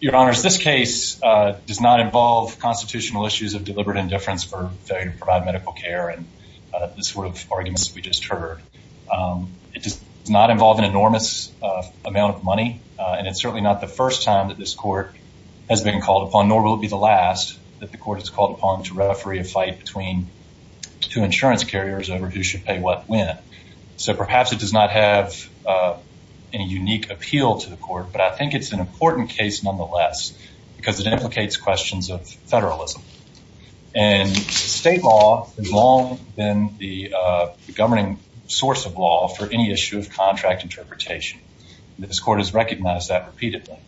Your Honors, this case does not involve constitutional issues of deliberate indifference for failure to provide medical care and the sort of arguments we just heard. It does not involve an enormous amount of money, and it's certainly not the first time that this court has been called upon, nor will it be the last, that the court is called upon to referee a fight between two insurance carriers over who should pay what when. So perhaps it does not have any unique appeal to court, but I think it's an important case nonetheless because it implicates questions of federalism. And state law has long been the governing source of law for any issue of contract interpretation. This court has recognized that repeatedly.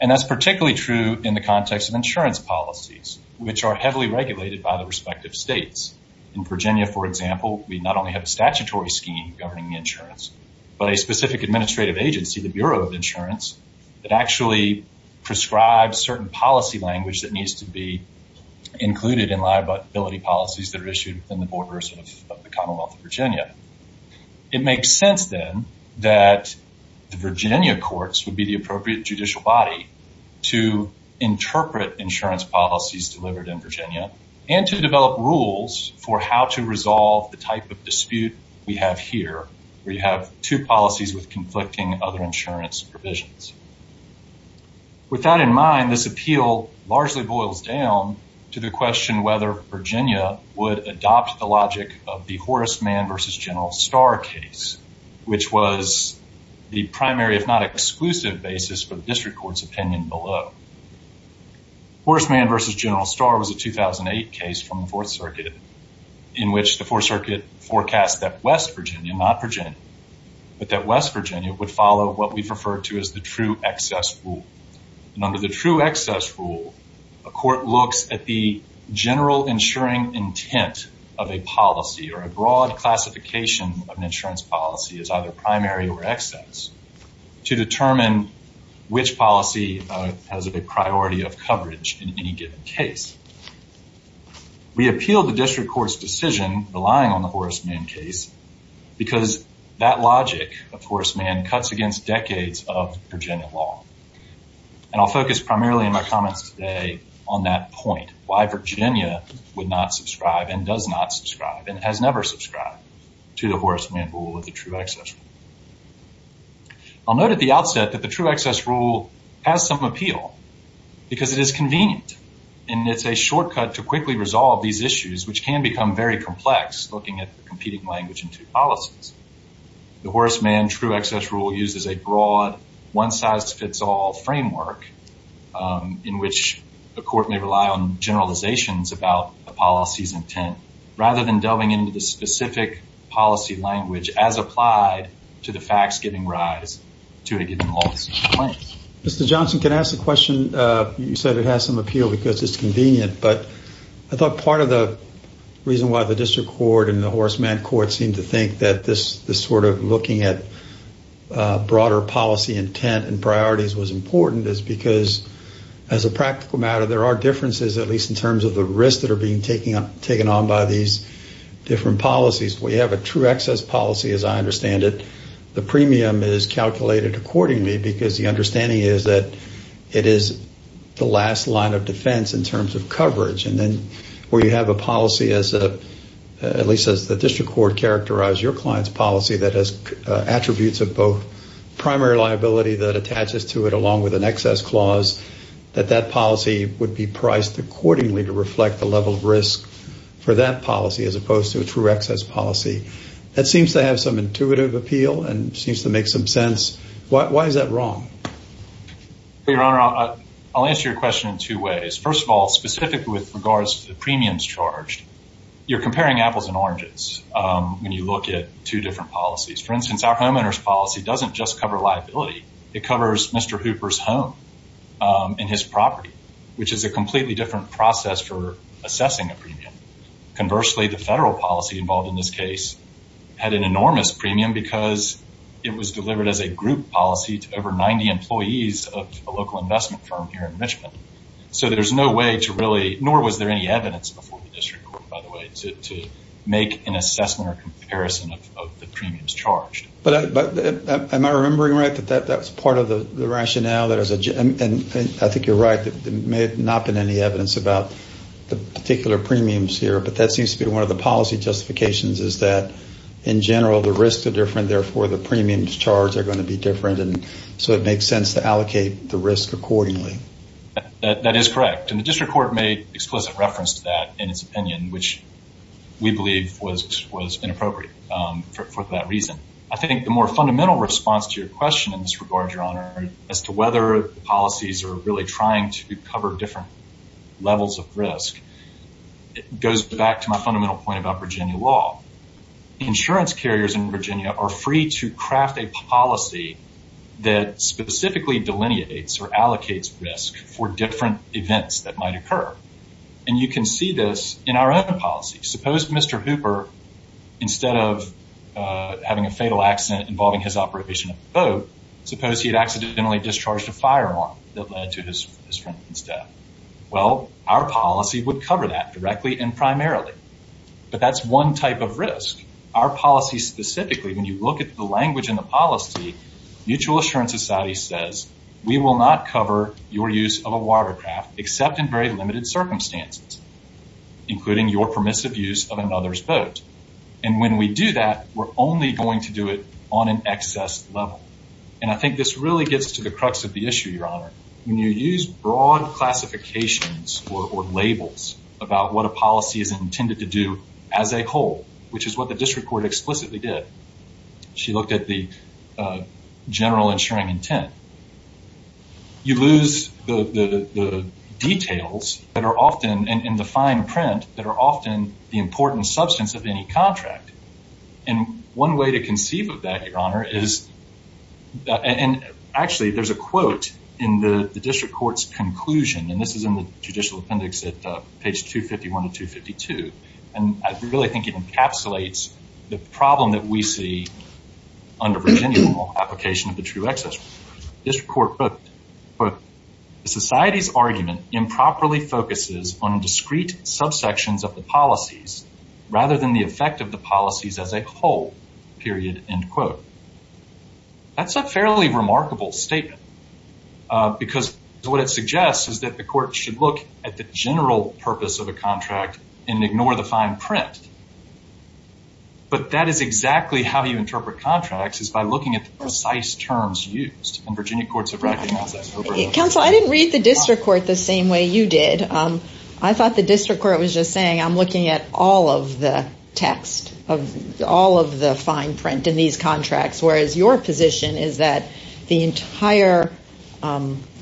And that's particularly true in the context of insurance policies, which are heavily regulated by the respective states. In Virginia, for example, we not only have a statutory scheme governing insurance, but a specific administrative agency, the Bureau of Insurance, that actually prescribes certain policy language that needs to be included in liability policies that are issued within the borders of the Commonwealth of Virginia. It makes sense then that the Virginia courts would be the appropriate judicial body to interpret insurance policies delivered in Virginia and to develop rules for how to resolve the type of dispute we have here, where you have two policies with conflicting other insurance provisions. With that in mind, this appeal largely boils down to the question whether Virginia would adopt the logic of the Horace Mann v. General Starr case, which was the primary, if not exclusive, basis for the district court's opinion below. Horace Mann v. General Starr was a 2008 case from the 4th Circuit forecast that West Virginia, not Virginia, but that West Virginia would follow what we've referred to as the true excess rule. And under the true excess rule, a court looks at the general insuring intent of a policy or a broad classification of an insurance policy as either primary or excess to determine which policy has a priority of coverage in any given case. We appealed the district court's decision relying on the Horace Mann case because that logic of Horace Mann cuts against decades of Virginia law. And I'll focus primarily in my comments today on that point, why Virginia would not subscribe and does not subscribe and has never subscribed to the Horace Mann rule of the true excess rule. I'll note at the outset that the true excess rule has some appeal because it is convenient and it's a shortcut to quickly resolve these issues, which can become very complex looking at the competing language in two policies. The Horace Mann true excess rule uses a broad, one-size-fits-all framework in which the court may rely on generalizations about a policy's intent rather than delving into the specific policy language as applied to the facts giving rise to a given policy. Mr. Johnson, can I ask a question? You said it has some appeal because it's convenient, but I thought part of the reason why the district court and the Horace Mann court seemed to think that this sort of looking at broader policy intent and priorities was important is because as a practical matter, there are differences, at least in terms of the risks that are being taken on by these different policies. We have a true excess policy, as I understand it. The premium is calculated accordingly because the understanding is that it is the last line of defense in terms of coverage. And then where you have a policy, at least as the district court characterized your client's policy, that has attributes of both primary liability that attaches to it along with an excess clause, that that policy would be priced accordingly to reflect the level of risk for that policy as opposed to a true excess policy. That seems to have some intuitive appeal and seems to make some sense. Why is that wrong? Your Honor, I'll answer your question in two ways. First of all, specifically with regards to the premiums charged, you're comparing apples and oranges when you look at two different policies. For instance, our homeowner's policy doesn't just cover liability. It covers Mr. Hooper's home and his property, which is a assessing a premium. Conversely, the federal policy involved in this case had an enormous premium because it was delivered as a group policy to over 90 employees of a local investment firm here in Michigan. So there's no way to really, nor was there any evidence before the district court, by the way, to make an assessment or comparison of the premiums charged. But am I remembering right that that was part of the rationale? And I think you're right. There may have not been any evidence about the particular premiums here, but that seems to be one of the policy justifications, is that in general, the risks are different. Therefore, the premiums charged are going to be different. And so it makes sense to allocate the risk accordingly. That is correct. And the district court made explicit reference to that in its opinion, which we believe was inappropriate for that reason. I think the more fundamental response to your question in this regard, as to whether policies are really trying to cover different levels of risk, it goes back to my fundamental point about Virginia law. Insurance carriers in Virginia are free to craft a policy that specifically delineates or allocates risk for different events that might occur. And you can see this in our own policy. Suppose Mr. Hooper, instead of having a fatal accident involving his operation of the boat, suppose he had accidentally discharged a firearm that led to his friend's death. Well, our policy would cover that directly and primarily. But that's one type of risk. Our policy specifically, when you look at the language in the policy, Mutual Assurance Society says, we will not cover your use of a watercraft except in very limited circumstances, including your permissive use of another's boat. And when we do that, we're only going to do it on an excess level. And I think this really gets to the crux of the issue, Your Honor. When you use broad classifications or labels about what a policy is intended to do as a whole, which is what the district court explicitly did. She looked at the general insuring intent. You lose the details that are often in the fine print that are often the important substance of any contract. And one way to conceive of that, Your Honor, is, and actually there's a quote in the district court's conclusion, and this is in the judicial appendix at page 251 and 252. And I really think it encapsulates the problem that we see under Virginia law, application of the true excess rule. This court put, the society's argument improperly focuses on discrete subsections of the policies rather than the effect of the policies as a whole, period, end quote. That's a fairly remarkable statement. Because what it suggests is that the court should look at the general purpose of a contract and ignore the fine print. But that is exactly how you interpret contracts, is by looking at the precise terms used. And Virginia courts have recognized that. Counsel, I didn't read the district court the same way you did. I thought the district court was just saying, I'm looking at all of the text, all of the fine print in these contracts. Whereas your position is that the entire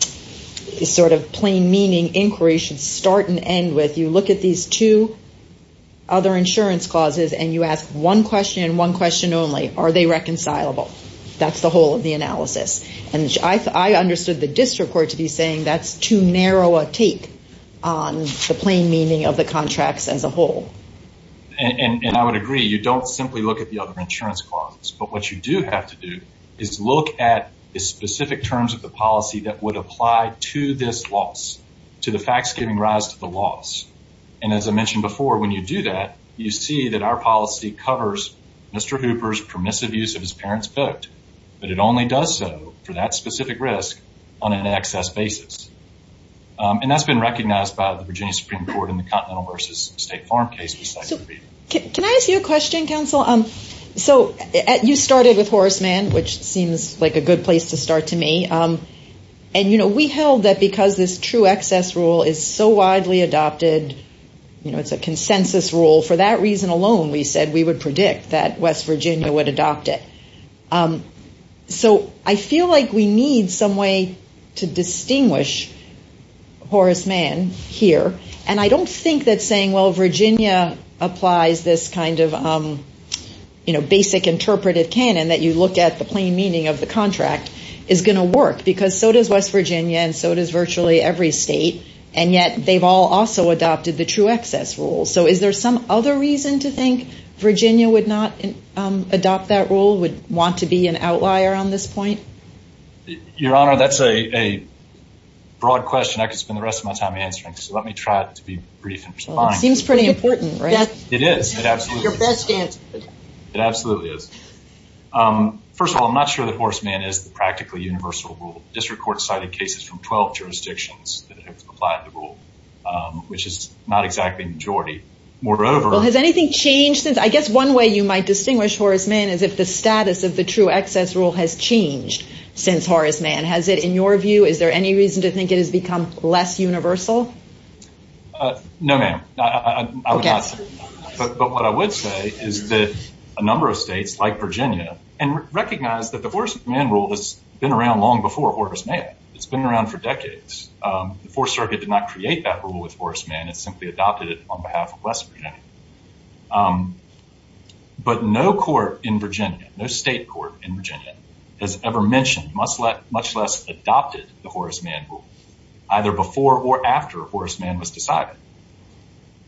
sort of plain meaning inquiry should start and end with, you look at these two other insurance clauses and you ask one question and one question only, are they reconcilable? That's the whole of the analysis. And I understood the district court to be saying that's too narrow a take on the plain meaning of the contracts as a whole. And I would agree, you don't simply look at the other insurance clauses. But what you do have to do is look at the specific terms of the policy that would apply to this loss, to the facts giving rise to the loss. And as I mentioned before, when you do that, you see that our policy covers Mr. Hooper's permissive use of his parent's vote, but it only does so for that specific risk on an excess basis. And that's been recognized by the Virginia Supreme Court in the Continental versus State Farm case. Can I ask you a question, counsel? So you started with Horace Mann, which seems like a good place to start to me. And we held that because this true excess rule is so widely adopted, it's a consensus rule, for that reason alone, we said we would predict that West Virginia would adopt it. So I feel like we need some way to distinguish Horace Mann here. And I don't think that saying, well, Virginia applies this kind of basic interpretive canon that you look at the meaning of the contract is going to work because so does West Virginia and so does virtually every state. And yet they've all also adopted the true excess rule. So is there some other reason to think Virginia would not adopt that rule, would want to be an outlier on this point? Your Honor, that's a broad question I could spend the rest of my time answering. So let me try to be brief. It seems pretty important, right? It is. It absolutely is. Your best answer. It absolutely is. First of all, I'm not sure that Horace Mann is the practically universal rule. District court cited cases from 12 jurisdictions that have applied the rule, which is not exactly the majority. Moreover... Well, has anything changed since... I guess one way you might distinguish Horace Mann is if the status of the true excess rule has changed since Horace Mann. Has it, in your view, is there any reason to think it has become less universal? No, ma'am. But what I would say is that a number of states like Virginia and recognize that the Horace Mann rule has been around long before Horace Mann. It's been around for decades. The Fourth Circuit did not create that rule with Horace Mann. It simply adopted it on behalf of West Virginia. But no court in Virginia, no state court in Virginia has ever mentioned, much less adopted the Horace Mann rule, either before or after Horace Mann was decided.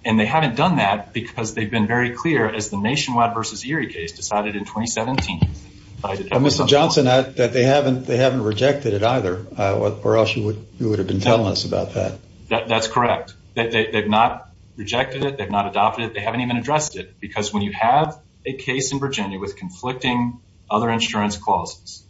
And they haven't done that because they've been very clear as the Nationwide versus Erie case decided in 2017. Mr. Johnson, they haven't rejected it either, or else you would have been telling us about that. That's correct. They've not rejected it. They've not adopted it. They haven't even addressed it. Because when you have a case in Virginia with conflicting other insurance clauses,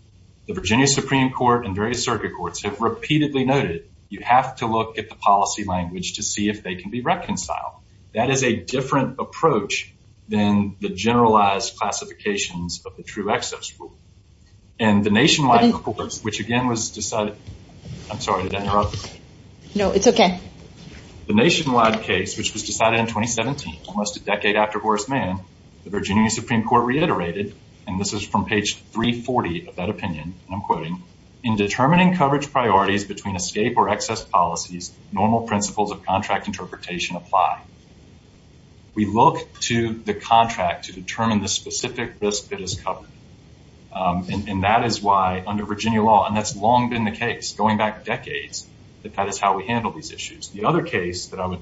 the Virginia Supreme Court and various circuit courts have repeatedly noted, you have to look at the policy language to see if they can be reconciled. That is a different approach than the generalized classifications of the true excess rule. And the Nationwide case, which was decided in 2017, almost a decade after Horace Mann, the Virginia Supreme Court reiterated, and this is from page 340 of that opinion, and I'm quoting, in determining coverage priorities between escape or excess policies, normal principles of contract interpretation apply. We look to the contract to determine the specific risk that is covered. And that is why under Virginia law, and that's long been the case, going back decades, that that is how we handle these issues. The other case that I would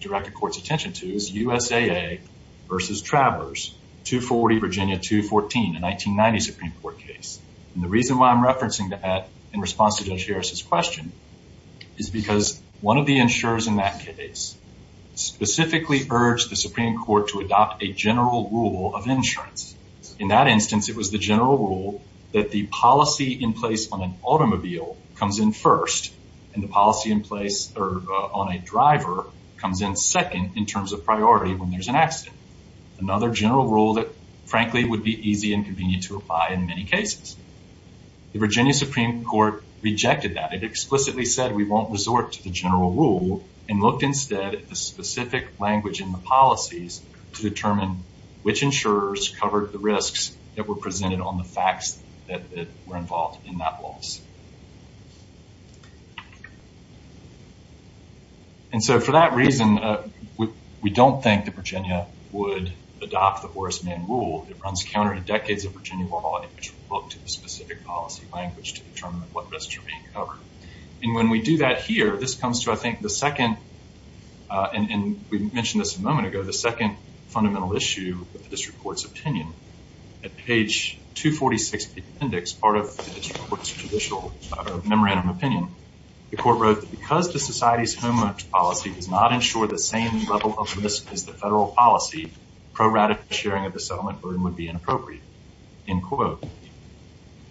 direct the court's attention to is USAA versus Travers, 240 Virginia 214, a 1990 Supreme Court case. And the reason why I'm referencing that in response to Judge Harris's question is because one of the insurers in that case specifically urged the Supreme Court to adopt a general rule of insurance. In that instance, it was the general rule that the policy in place on an automobile comes in first, and the policy in place on a driver comes in second in terms of priority when there's an accident. Another general rule that frankly would be easy and convenient to apply in many cases. The Virginia Supreme Court rejected that. It explicitly said we won't resort to the general rule and looked instead at the specific language in the policies to determine which insurers covered the risks that were presented on the facts that were involved in that loss. And so for that reason, we don't think that Virginia would adopt the Horace Mann rule. It runs counter to decades of Virginia law in which we look to the specific policy language to determine what risks are being covered. And when we do that here, this comes to I think the second, and we mentioned this a moment ago, the second fundamental issue with the district court's memorandum opinion. The court wrote that because the society's homeowner's policy does not ensure the same level of risk as the federal policy, pro-radical sharing of the settlement burden would be inappropriate, end quote.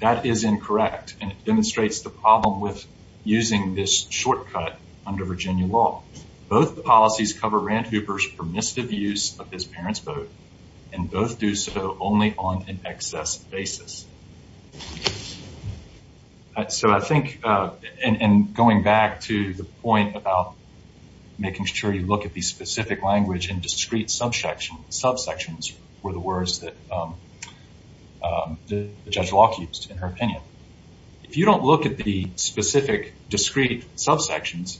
That is incorrect, and it demonstrates the problem with using this shortcut under Virginia law. Both the policies cover Rand Hooper's permissive use of his parents' vote, and both do so only on an excess basis. So I think, and going back to the point about making sure you look at the specific language and discrete subsections were the words that Judge Locke used in her opinion. If you don't look at the specific, discrete subsections,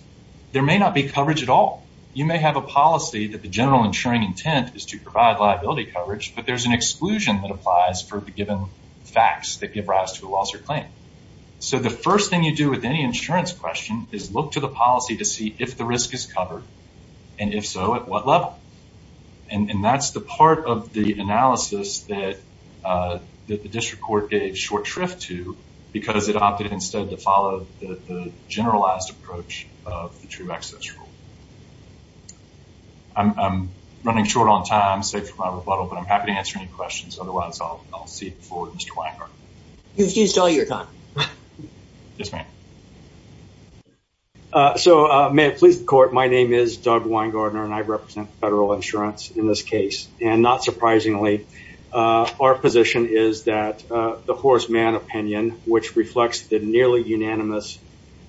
there may not be coverage at all. You may have a policy that the general insuring intent is to provide liability coverage, but there's an exclusion that applies for the given facts that give rise to a loss or claim. So the first thing you do with any insurance question is look to the policy to see if the risk is covered, and if so, at what level. And that's the part of the analysis that the district court gave short shrift to because it opted instead to running short on time, safe from my rebuttal, but I'm happy to answer any questions. Otherwise, I'll see you before Mr. Weingartner. You've used all your time. Yes, ma'am. So may it please the court, my name is Doug Weingartner, and I represent federal insurance in this case. And not surprisingly, our position is that the horseman opinion, which reflects the nearly unanimous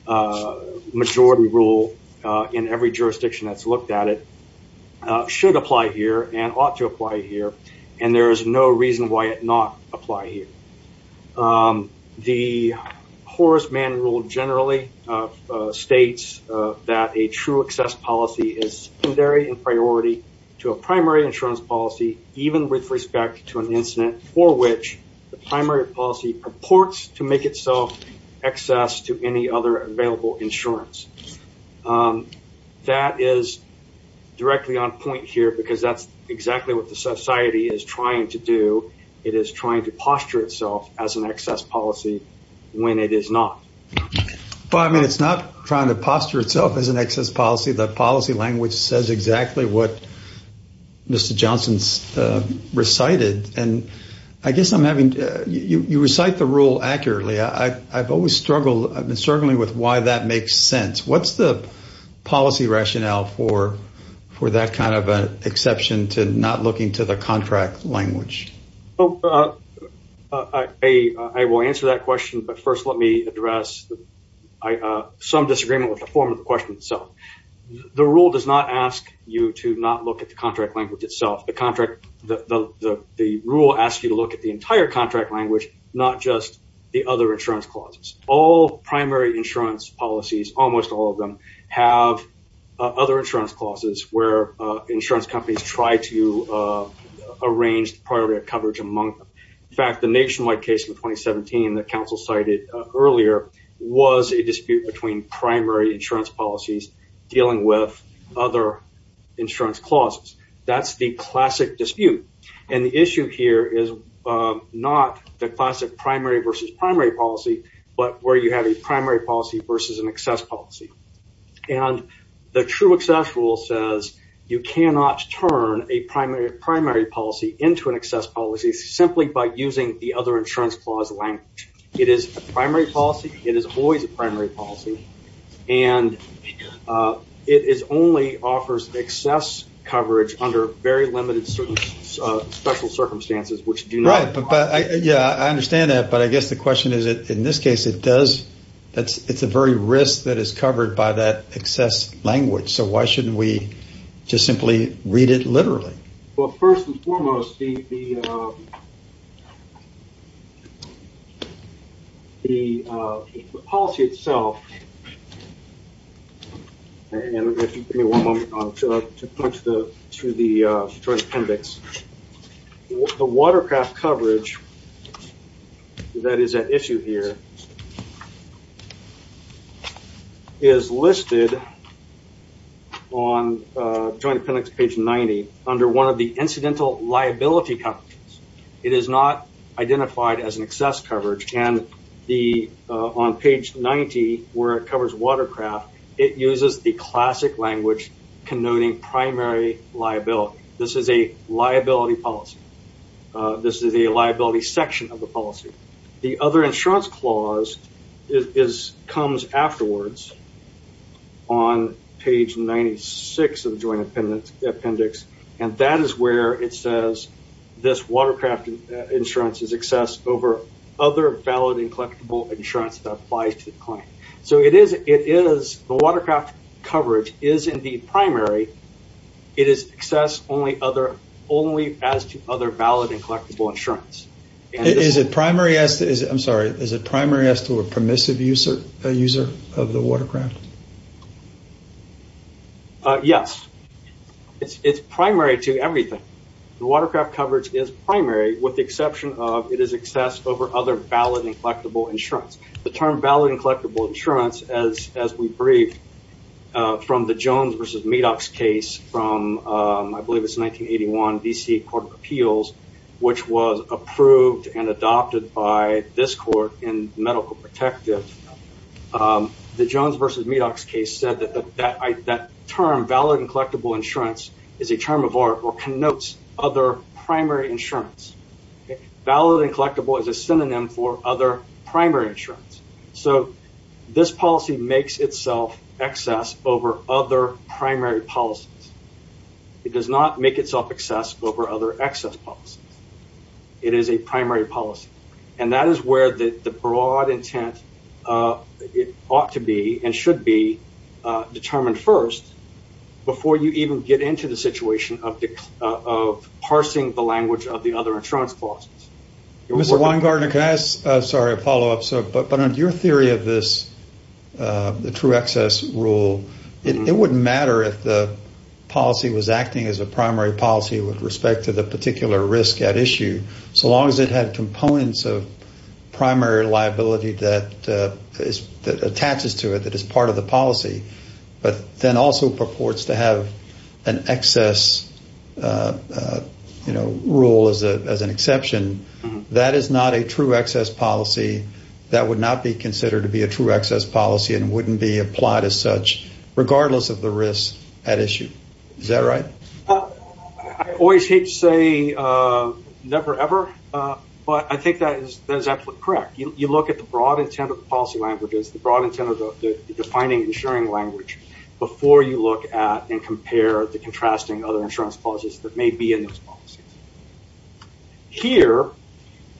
majority rule in every jurisdiction that's looked at it, should apply here and ought to apply here, and there is no reason why it not apply here. The horseman rule generally states that a true excess policy is secondary in priority to a primary insurance policy, even with respect to an incident for which the primary policy purports to make itself excess to any other available insurance. That is directly on point here because that's exactly what the society is trying to do. It is trying to posture itself as an excess policy when it is not. But I mean, it's not trying to posture itself as an excess policy. The policy language says exactly what Mr. Johnson's recited, and I guess I'm having, you recite the rule accurately. I've always struggled, I've been struggling with why that makes sense. What's the policy rationale for that kind of an exception to not looking to the contract language? I will answer that question, but first let me address some disagreement with the form of the itself. The rule does not ask you to not look at the contract language itself. The rule asks you to look at the entire contract language, not just the other insurance clauses. All primary insurance policies, almost all of them, have other insurance clauses where insurance companies try to arrange priority coverage among them. In fact, the nationwide case in 2017 that counsel cited earlier was a dispute between primary insurance policies dealing with other insurance clauses. That's the classic dispute. And the issue here is not the classic primary versus primary policy, but where you have a primary policy versus an excess policy. And the true excess rule says you cannot turn a primary policy into an excess policy simply by using the other insurance clause language. It is a primary policy, it is always a primary policy, and it only offers excess coverage under very limited special circumstances. I understand that, but I guess the question is, in this case, it's a very risk that is covered by that excess language, so why shouldn't we just simply read it literally? Well, first and foremost, the policy itself, and if you give me one moment to punch through the appendix, the watercraft coverage that is at issue here is listed on page 90 under one of the incidental liability companies. It is not identified as an excess coverage, and on page 90, where it covers watercraft, it uses the classic language connoting primary liability. This is a liability policy. This is a liability section of the policy. The other insurance clause comes afterwards on page 96 of the joint appendix, and that is where it says this watercraft insurance is excess over other valid and collectible insurance that applies to the client. So it is, the watercraft coverage is in the primary. It is excess only as to other and collectible insurance. Is it primary as to a permissive user of the watercraft? Yes. It's primary to everything. The watercraft coverage is primary with the exception of it is excess over other valid and collectible insurance. The term valid and collectible insurance, as we which was approved and adopted by this court in medical protective, the Jones versus Medox case said that that term valid and collectible insurance is a term of art or connotes other primary insurance. Valid and collectible is a synonym for other primary insurance. So this policy makes itself excess over other primary policies. It does not make itself excess over other excess policies. It is a primary policy. And that is where the broad intent ought to be and should be determined first before you even get into the situation of parsing the language of the other insurance clauses. Mr. Weingartner, can I ask a follow-up? But on your theory of this true excess rule, it wouldn't matter if the policy was acting as a policy with respect to the particular risk at issue, so long as it had components of primary liability that attaches to it, that is part of the policy, but then also purports to have an excess rule as an exception. That is not a true excess policy. That would not be considered to be a true excess policy and wouldn't be applied as such, regardless of the risk at issue. Is that right? I always hate to say never ever, but I think that is absolutely correct. You look at the broad intent of the policy languages, the broad intent of the defining insuring language before you look at and compare the contrasting other insurance clauses that may be in those policies. Here,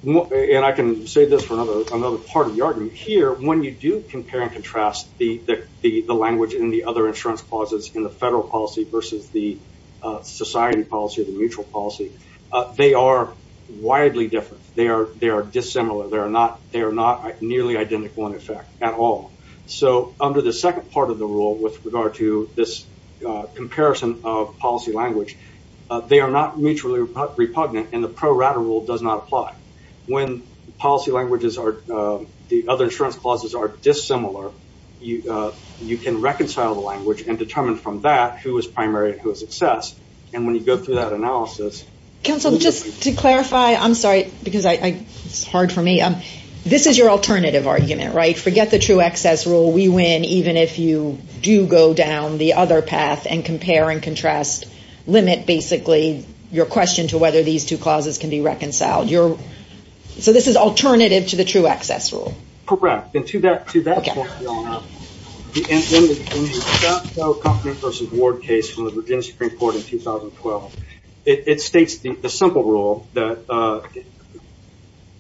and I can say this for another part of the argument, here, when you do compare and contrast the language in the other insurance clauses in the federal policy versus the society policy or the mutual policy, they are widely different. They are dissimilar. They are not nearly identical in effect at all. Under the second part of the rule with regard to this comparison of policy language, they are not mutually repugnant and the pro rata rule does not apply. When policy languages, the other insurance clauses are dissimilar, you can reconcile the language and determine from that who is primary and who is excess. When you go through that analysis... Counsel, just to clarify, I'm sorry, because it's hard for me. This is your alternative argument, right? Forget the true excess rule. We win even if you do go down the other path and compare and contrast, limit basically your question to whether these two clauses can be reconciled. So this is alternative to the true excess rule. Correct. And to that point, Ward case from the Virginia Supreme Court in 2012, it states the simple rule that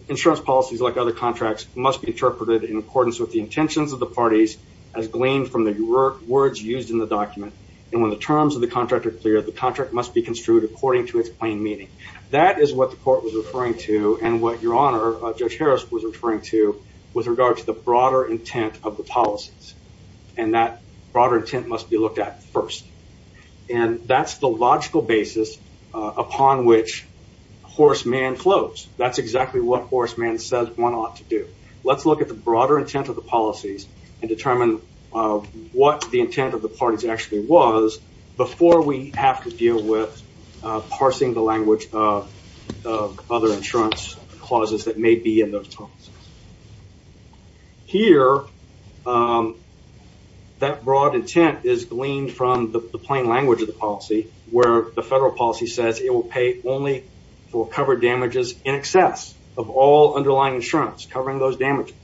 insurance policies like other contracts must be interpreted in accordance with the intentions of the parties as gleaned from the words used in the document. And when the terms of the contract are according to its plain meaning. That is what the court was referring to and what your honor, Judge Harris, was referring to with regard to the broader intent of the policies. And that broader intent must be looked at first. And that's the logical basis upon which horseman floats. That's exactly what horseman says one ought to do. Let's look at the broader intent of the policies and determine what the intent of the parties actually was before we have to deal with parsing the language of other insurance clauses that may be in those terms. Here, that broad intent is gleaned from the plain language of the policy where the federal policy says it will pay only for covered damages in excess of all underlying insurance covering those damages.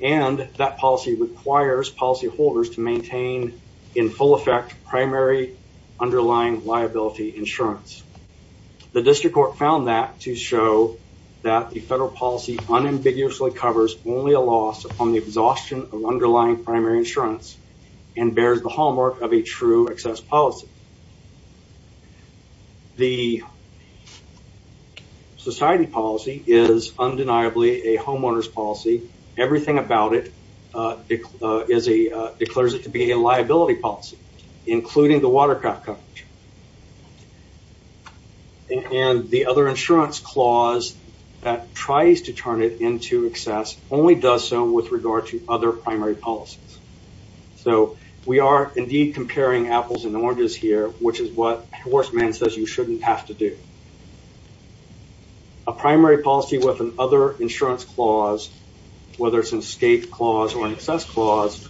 And that policy requires policyholders to maintain in full effect primary underlying liability insurance. The district court found that to show that the federal policy unambiguously covers only a loss on the exhaustion of underlying primary insurance and bears the hallmark of a true excess policy. The society policy is undeniably a homeowner's policy. It declares it to be a liability policy, including the watercraft coverage. And the other insurance clause that tries to turn it into excess only does so with regard to other primary policies. So, we are indeed comparing apples and oranges here, which is what horseman says you shouldn't have to do. A primary policy with an other insurance clause, whether it's an escape clause or an excess clause,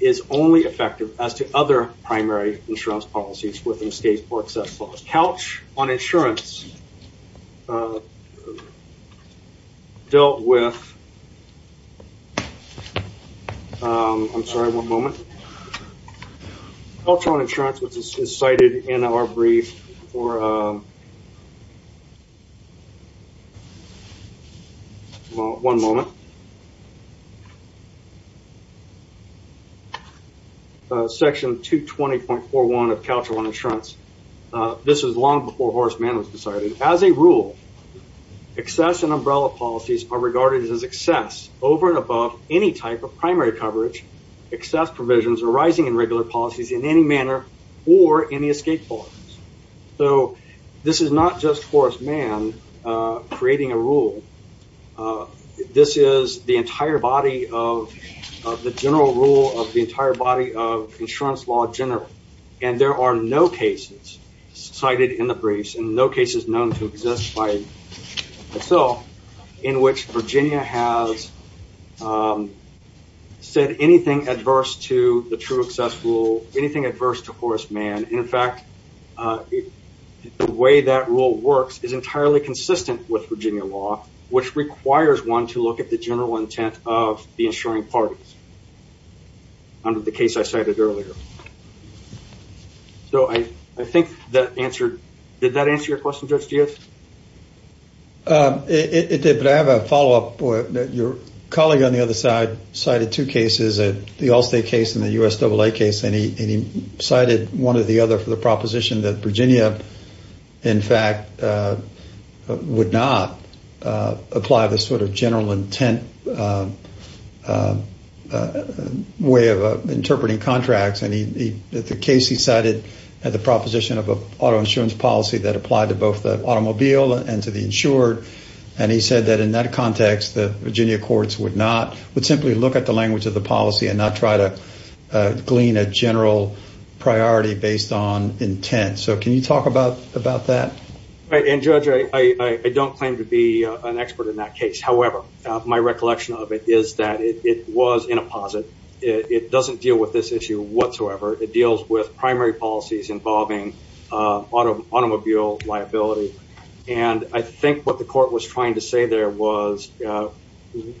is only effective as to other primary insurance policies with an escape or excess clause. Couch on insurance dealt with I'm sorry, one moment. Couch on insurance, which is cited in our brief for Couch on insurance. This is long before horseman was decided. As a rule, excess and umbrella policies are regarded as excess over and above any type of primary coverage, excess provisions arising in regular policies in any manner or any escape clause. So, this is not just horseman creating a rule. This is the entire body of the general rule of the entire body of insurance law in general. And there are no cases cited in the briefs and no cases known to exist by itself in which Virginia has said anything adverse to the true excess rule, anything adverse to horseman. In fact, the way that rule works is entirely consistent with Virginia law, which requires one to look at the general intent of the insuring parties under the case I cited earlier. So, I think that answered, did that answer your question, Judge Giaz? It did, but I have a follow-up. Your colleague on the other side cited two cases, the Allstate case and the U.S.A.A. case, and he cited one or the other for the proposition that a way of interpreting contracts. And the case he cited had the proposition of an auto insurance policy that applied to both the automobile and to the insured. And he said that in that context, the Virginia courts would simply look at the language of the policy and not try to glean a general priority based on intent. So, can you talk about that? And Judge, I don't claim to be an expert in that case. However, my recollection of it is that it was in a posit. It doesn't deal with this issue whatsoever. It deals with primary policies involving automobile liability. And I think what the court was trying to say there was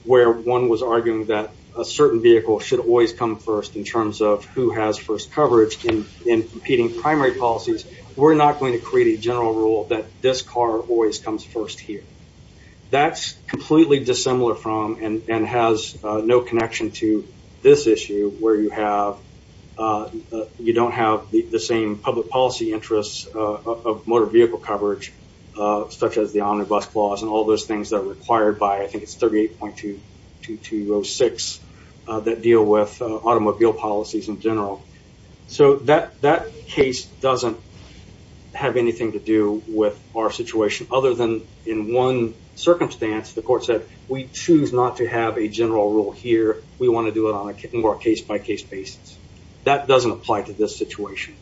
where one was arguing that a certain vehicle should always come first in terms of who has first coverage in competing primary policies. We're not going to create a general rule that this car always comes first here. That's completely dissimilar from and has no connection to this issue where you have you don't have the same public policy interests of motor vehicle coverage such as the omnibus clause and all those things that are required by I think it's with our situation other than in one circumstance, the court said we choose not to have a general rule here. We want to do it on a more case by case basis. That doesn't apply to this situation.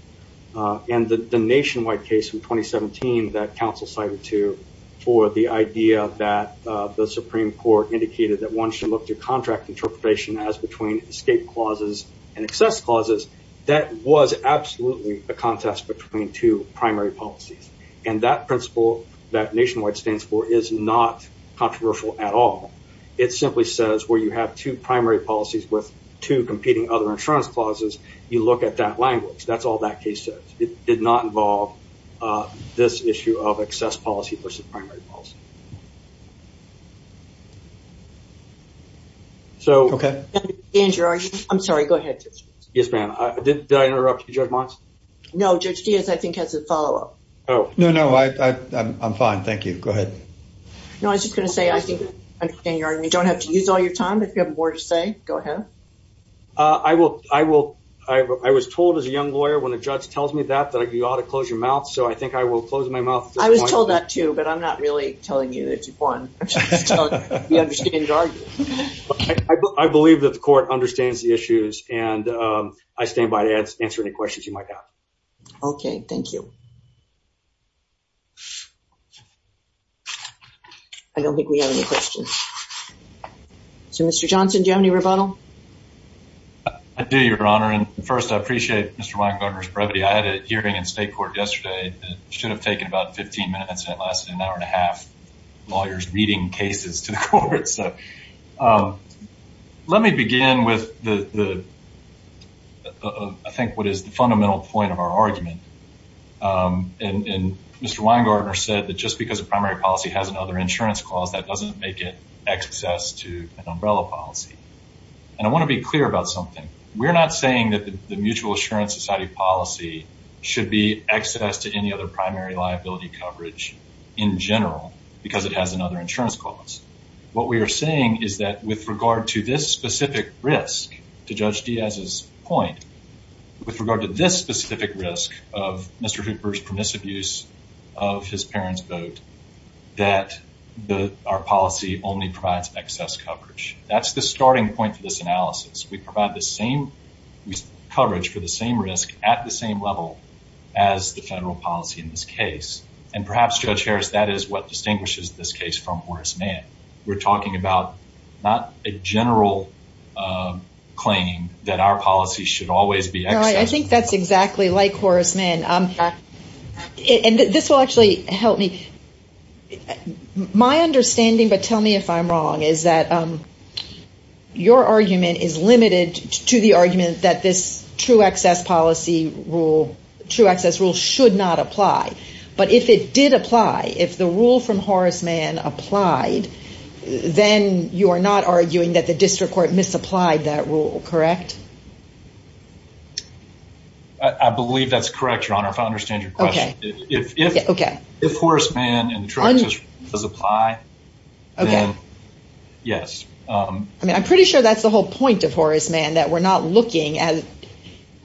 And the nationwide case in 2017 that counsel cited to for the idea that the Supreme Court indicated that one should look to contract interpretation as between escape clauses and primary policies. And that principle that nationwide stands for is not controversial at all. It simply says where you have two primary policies with two competing other insurance clauses, you look at that language. That's all that case says. It did not involve this issue of excess policy versus primary policy. So okay. Andrew, I'm sorry. Go ahead. Yes, ma'am. Did I interrupt you, Judge Mons? No, Judge Diaz, I think has a follow up. Oh, no, no, I'm fine. Thank you. Go ahead. No, I was just gonna say, I think, you don't have to use all your time. If you have more to say, go ahead. I will. I will. I was told as a young lawyer, when a judge tells me that, that you ought to close your mouth. So I think I will close my mouth. I was told that too. But I'm not really telling you that you've won. I believe that the court understands the issues. And I stand by to answer any questions you might have. Okay, thank you. I don't think we have any questions. So Mr. Johnson, do you have any rebuttal? I do, Your Honor. And first, I appreciate Mr. Weinberger's brevity. I had a hearing in state court yesterday that should have taken about 15 minutes and it lasted an hour and a half. Lawyers reading cases to the court. So let me begin with the, I think, what is the fundamental point of our argument. And Mr. Weingartner said that just because a primary policy has another insurance clause, that doesn't make it access to an umbrella policy. And I want to be clear about something. We're not saying that the Mutual Assurance Society policy should be access to any primary liability coverage in general because it has another insurance clause. What we are saying is that with regard to this specific risk, to Judge Diaz's point, with regard to this specific risk of Mr. Hooper's permissive use of his parents' vote, that our policy only provides excess coverage. That's the starting point for this analysis. We provide the same coverage for the same risk at the same level as the federal policy in this case. And perhaps, Judge Harris, that is what distinguishes this case from Horace Mann. We're talking about not a general claim that our policy should always be access. I think that's exactly like Horace Mann. And this will actually help me. My understanding, but tell me if I'm wrong, is that your argument is limited to the argument that this true access policy rule, true access rule, should not apply. But if it did apply, if the rule from Horace Mann applied, then you are not arguing that the district court misapplied that rule, correct? I believe that's correct, Your Honor, if I understand your question. If Horace Mann and I'm pretty sure that's the whole point of Horace Mann, that we're not looking at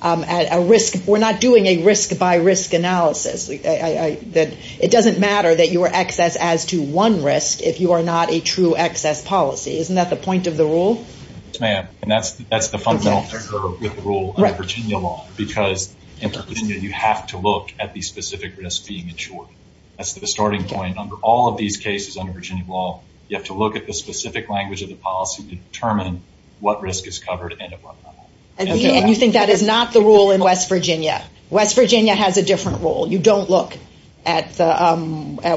a risk. We're not doing a risk by risk analysis. It doesn't matter that your access adds to one risk if you are not a true access policy. Isn't that the point of the rule? Ma'am, and that's the fundamental figure of the rule under Virginia law, because in Virginia, you have to look at the specific risk being insured. That's the starting point. Under all these cases under Virginia law, you have to look at the specific language of the policy to determine what risk is covered and at what level. And you think that is not the rule in West Virginia. West Virginia has a different rule. You don't look at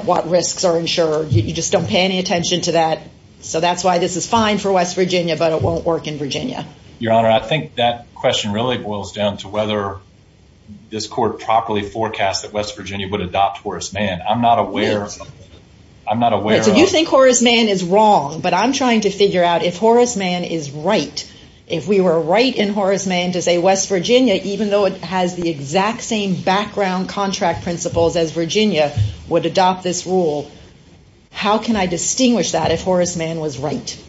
what risks are insured. You just don't pay any attention to that. So that's why this is fine for West Virginia, but it won't work in Virginia. Your Honor, I think that question really boils down to whether this court properly forecast that West Virginia would adopt Horace Mann. I'm not aware of... So you think Horace Mann is wrong, but I'm trying to figure out if Horace Mann is right. If we were right in Horace Mann to say West Virginia, even though it has the exact same background contract principles as Virginia would adopt this rule, how can I distinguish that if Horace Mann was right?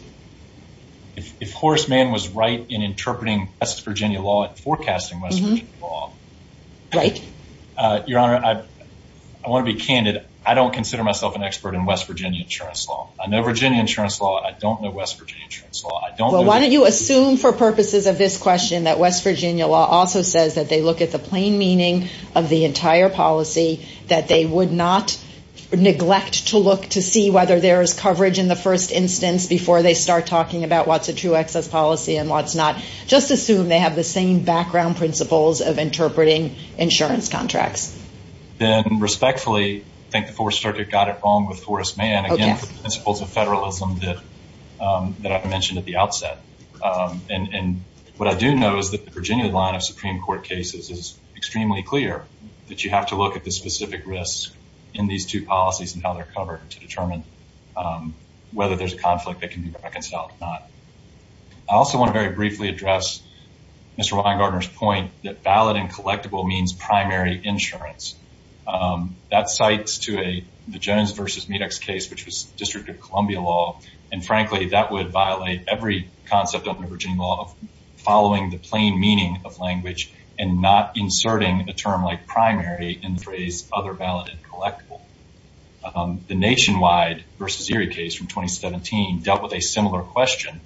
If Horace Mann was right in interpreting West Virginia law and forecasting West Virginia law... Right. Your Honor, I want to be candid. I don't consider myself an expert in West Virginia insurance law. I know Virginia insurance law. I don't know West Virginia insurance law. I don't know... Well, why don't you assume for purposes of this question that West Virginia law also says that they look at the plain meaning of the entire policy, that they would not neglect to look to see whether there is coverage in the first instance before they start talking about what's a true excess policy and what's not. Just assume they have the same background principles of interpreting insurance contracts. Then respectfully, I think the Fourth Amendment, the principles of federalism that I've mentioned at the outset. What I do know is that the Virginia line of Supreme Court cases is extremely clear that you have to look at the specific risks in these two policies and how they're covered to determine whether there's a conflict that can be reconciled or not. I also want to very briefly address Mr. Weingartner's point that valid and collectible means primary insurance. That cites to the Jones versus Medex case, which was District of Columbia law. Frankly, that would violate every concept of Virginia law of following the plain meaning of language and not inserting a term like primary in the phrase other valid and collectible. The Nationwide versus Erie case from 2017 dealt with a similar question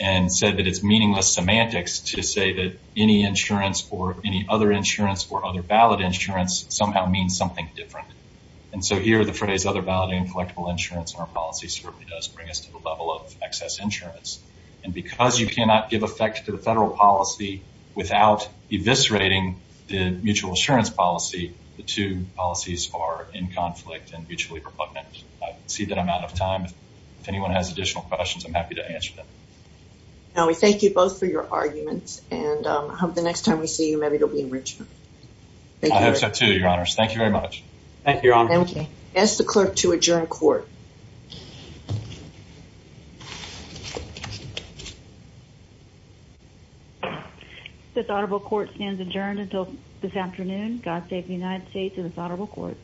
and said that it's meaningless semantics to say that any insurance or any other insurance or other valid insurance somehow means something different. Here, the phrase other valid and collectible insurance in our policy certainly does bring us to the level of excess insurance. Because you cannot give effect to the federal policy without eviscerating the mutual insurance policy, the two policies are in conflict and mutually repugnant. I see that I'm out of time. If anyone has additional questions, I'm happy to answer them. Now, we thank you both for your arguments and I hope the next time we see you maybe it'll be in Richmond. I hope so too, your honors. Thank you very much. Thank you, your honor. Ask the clerk to adjourn court. This audible court stands adjourned until this afternoon. God save the United States and this honorable court.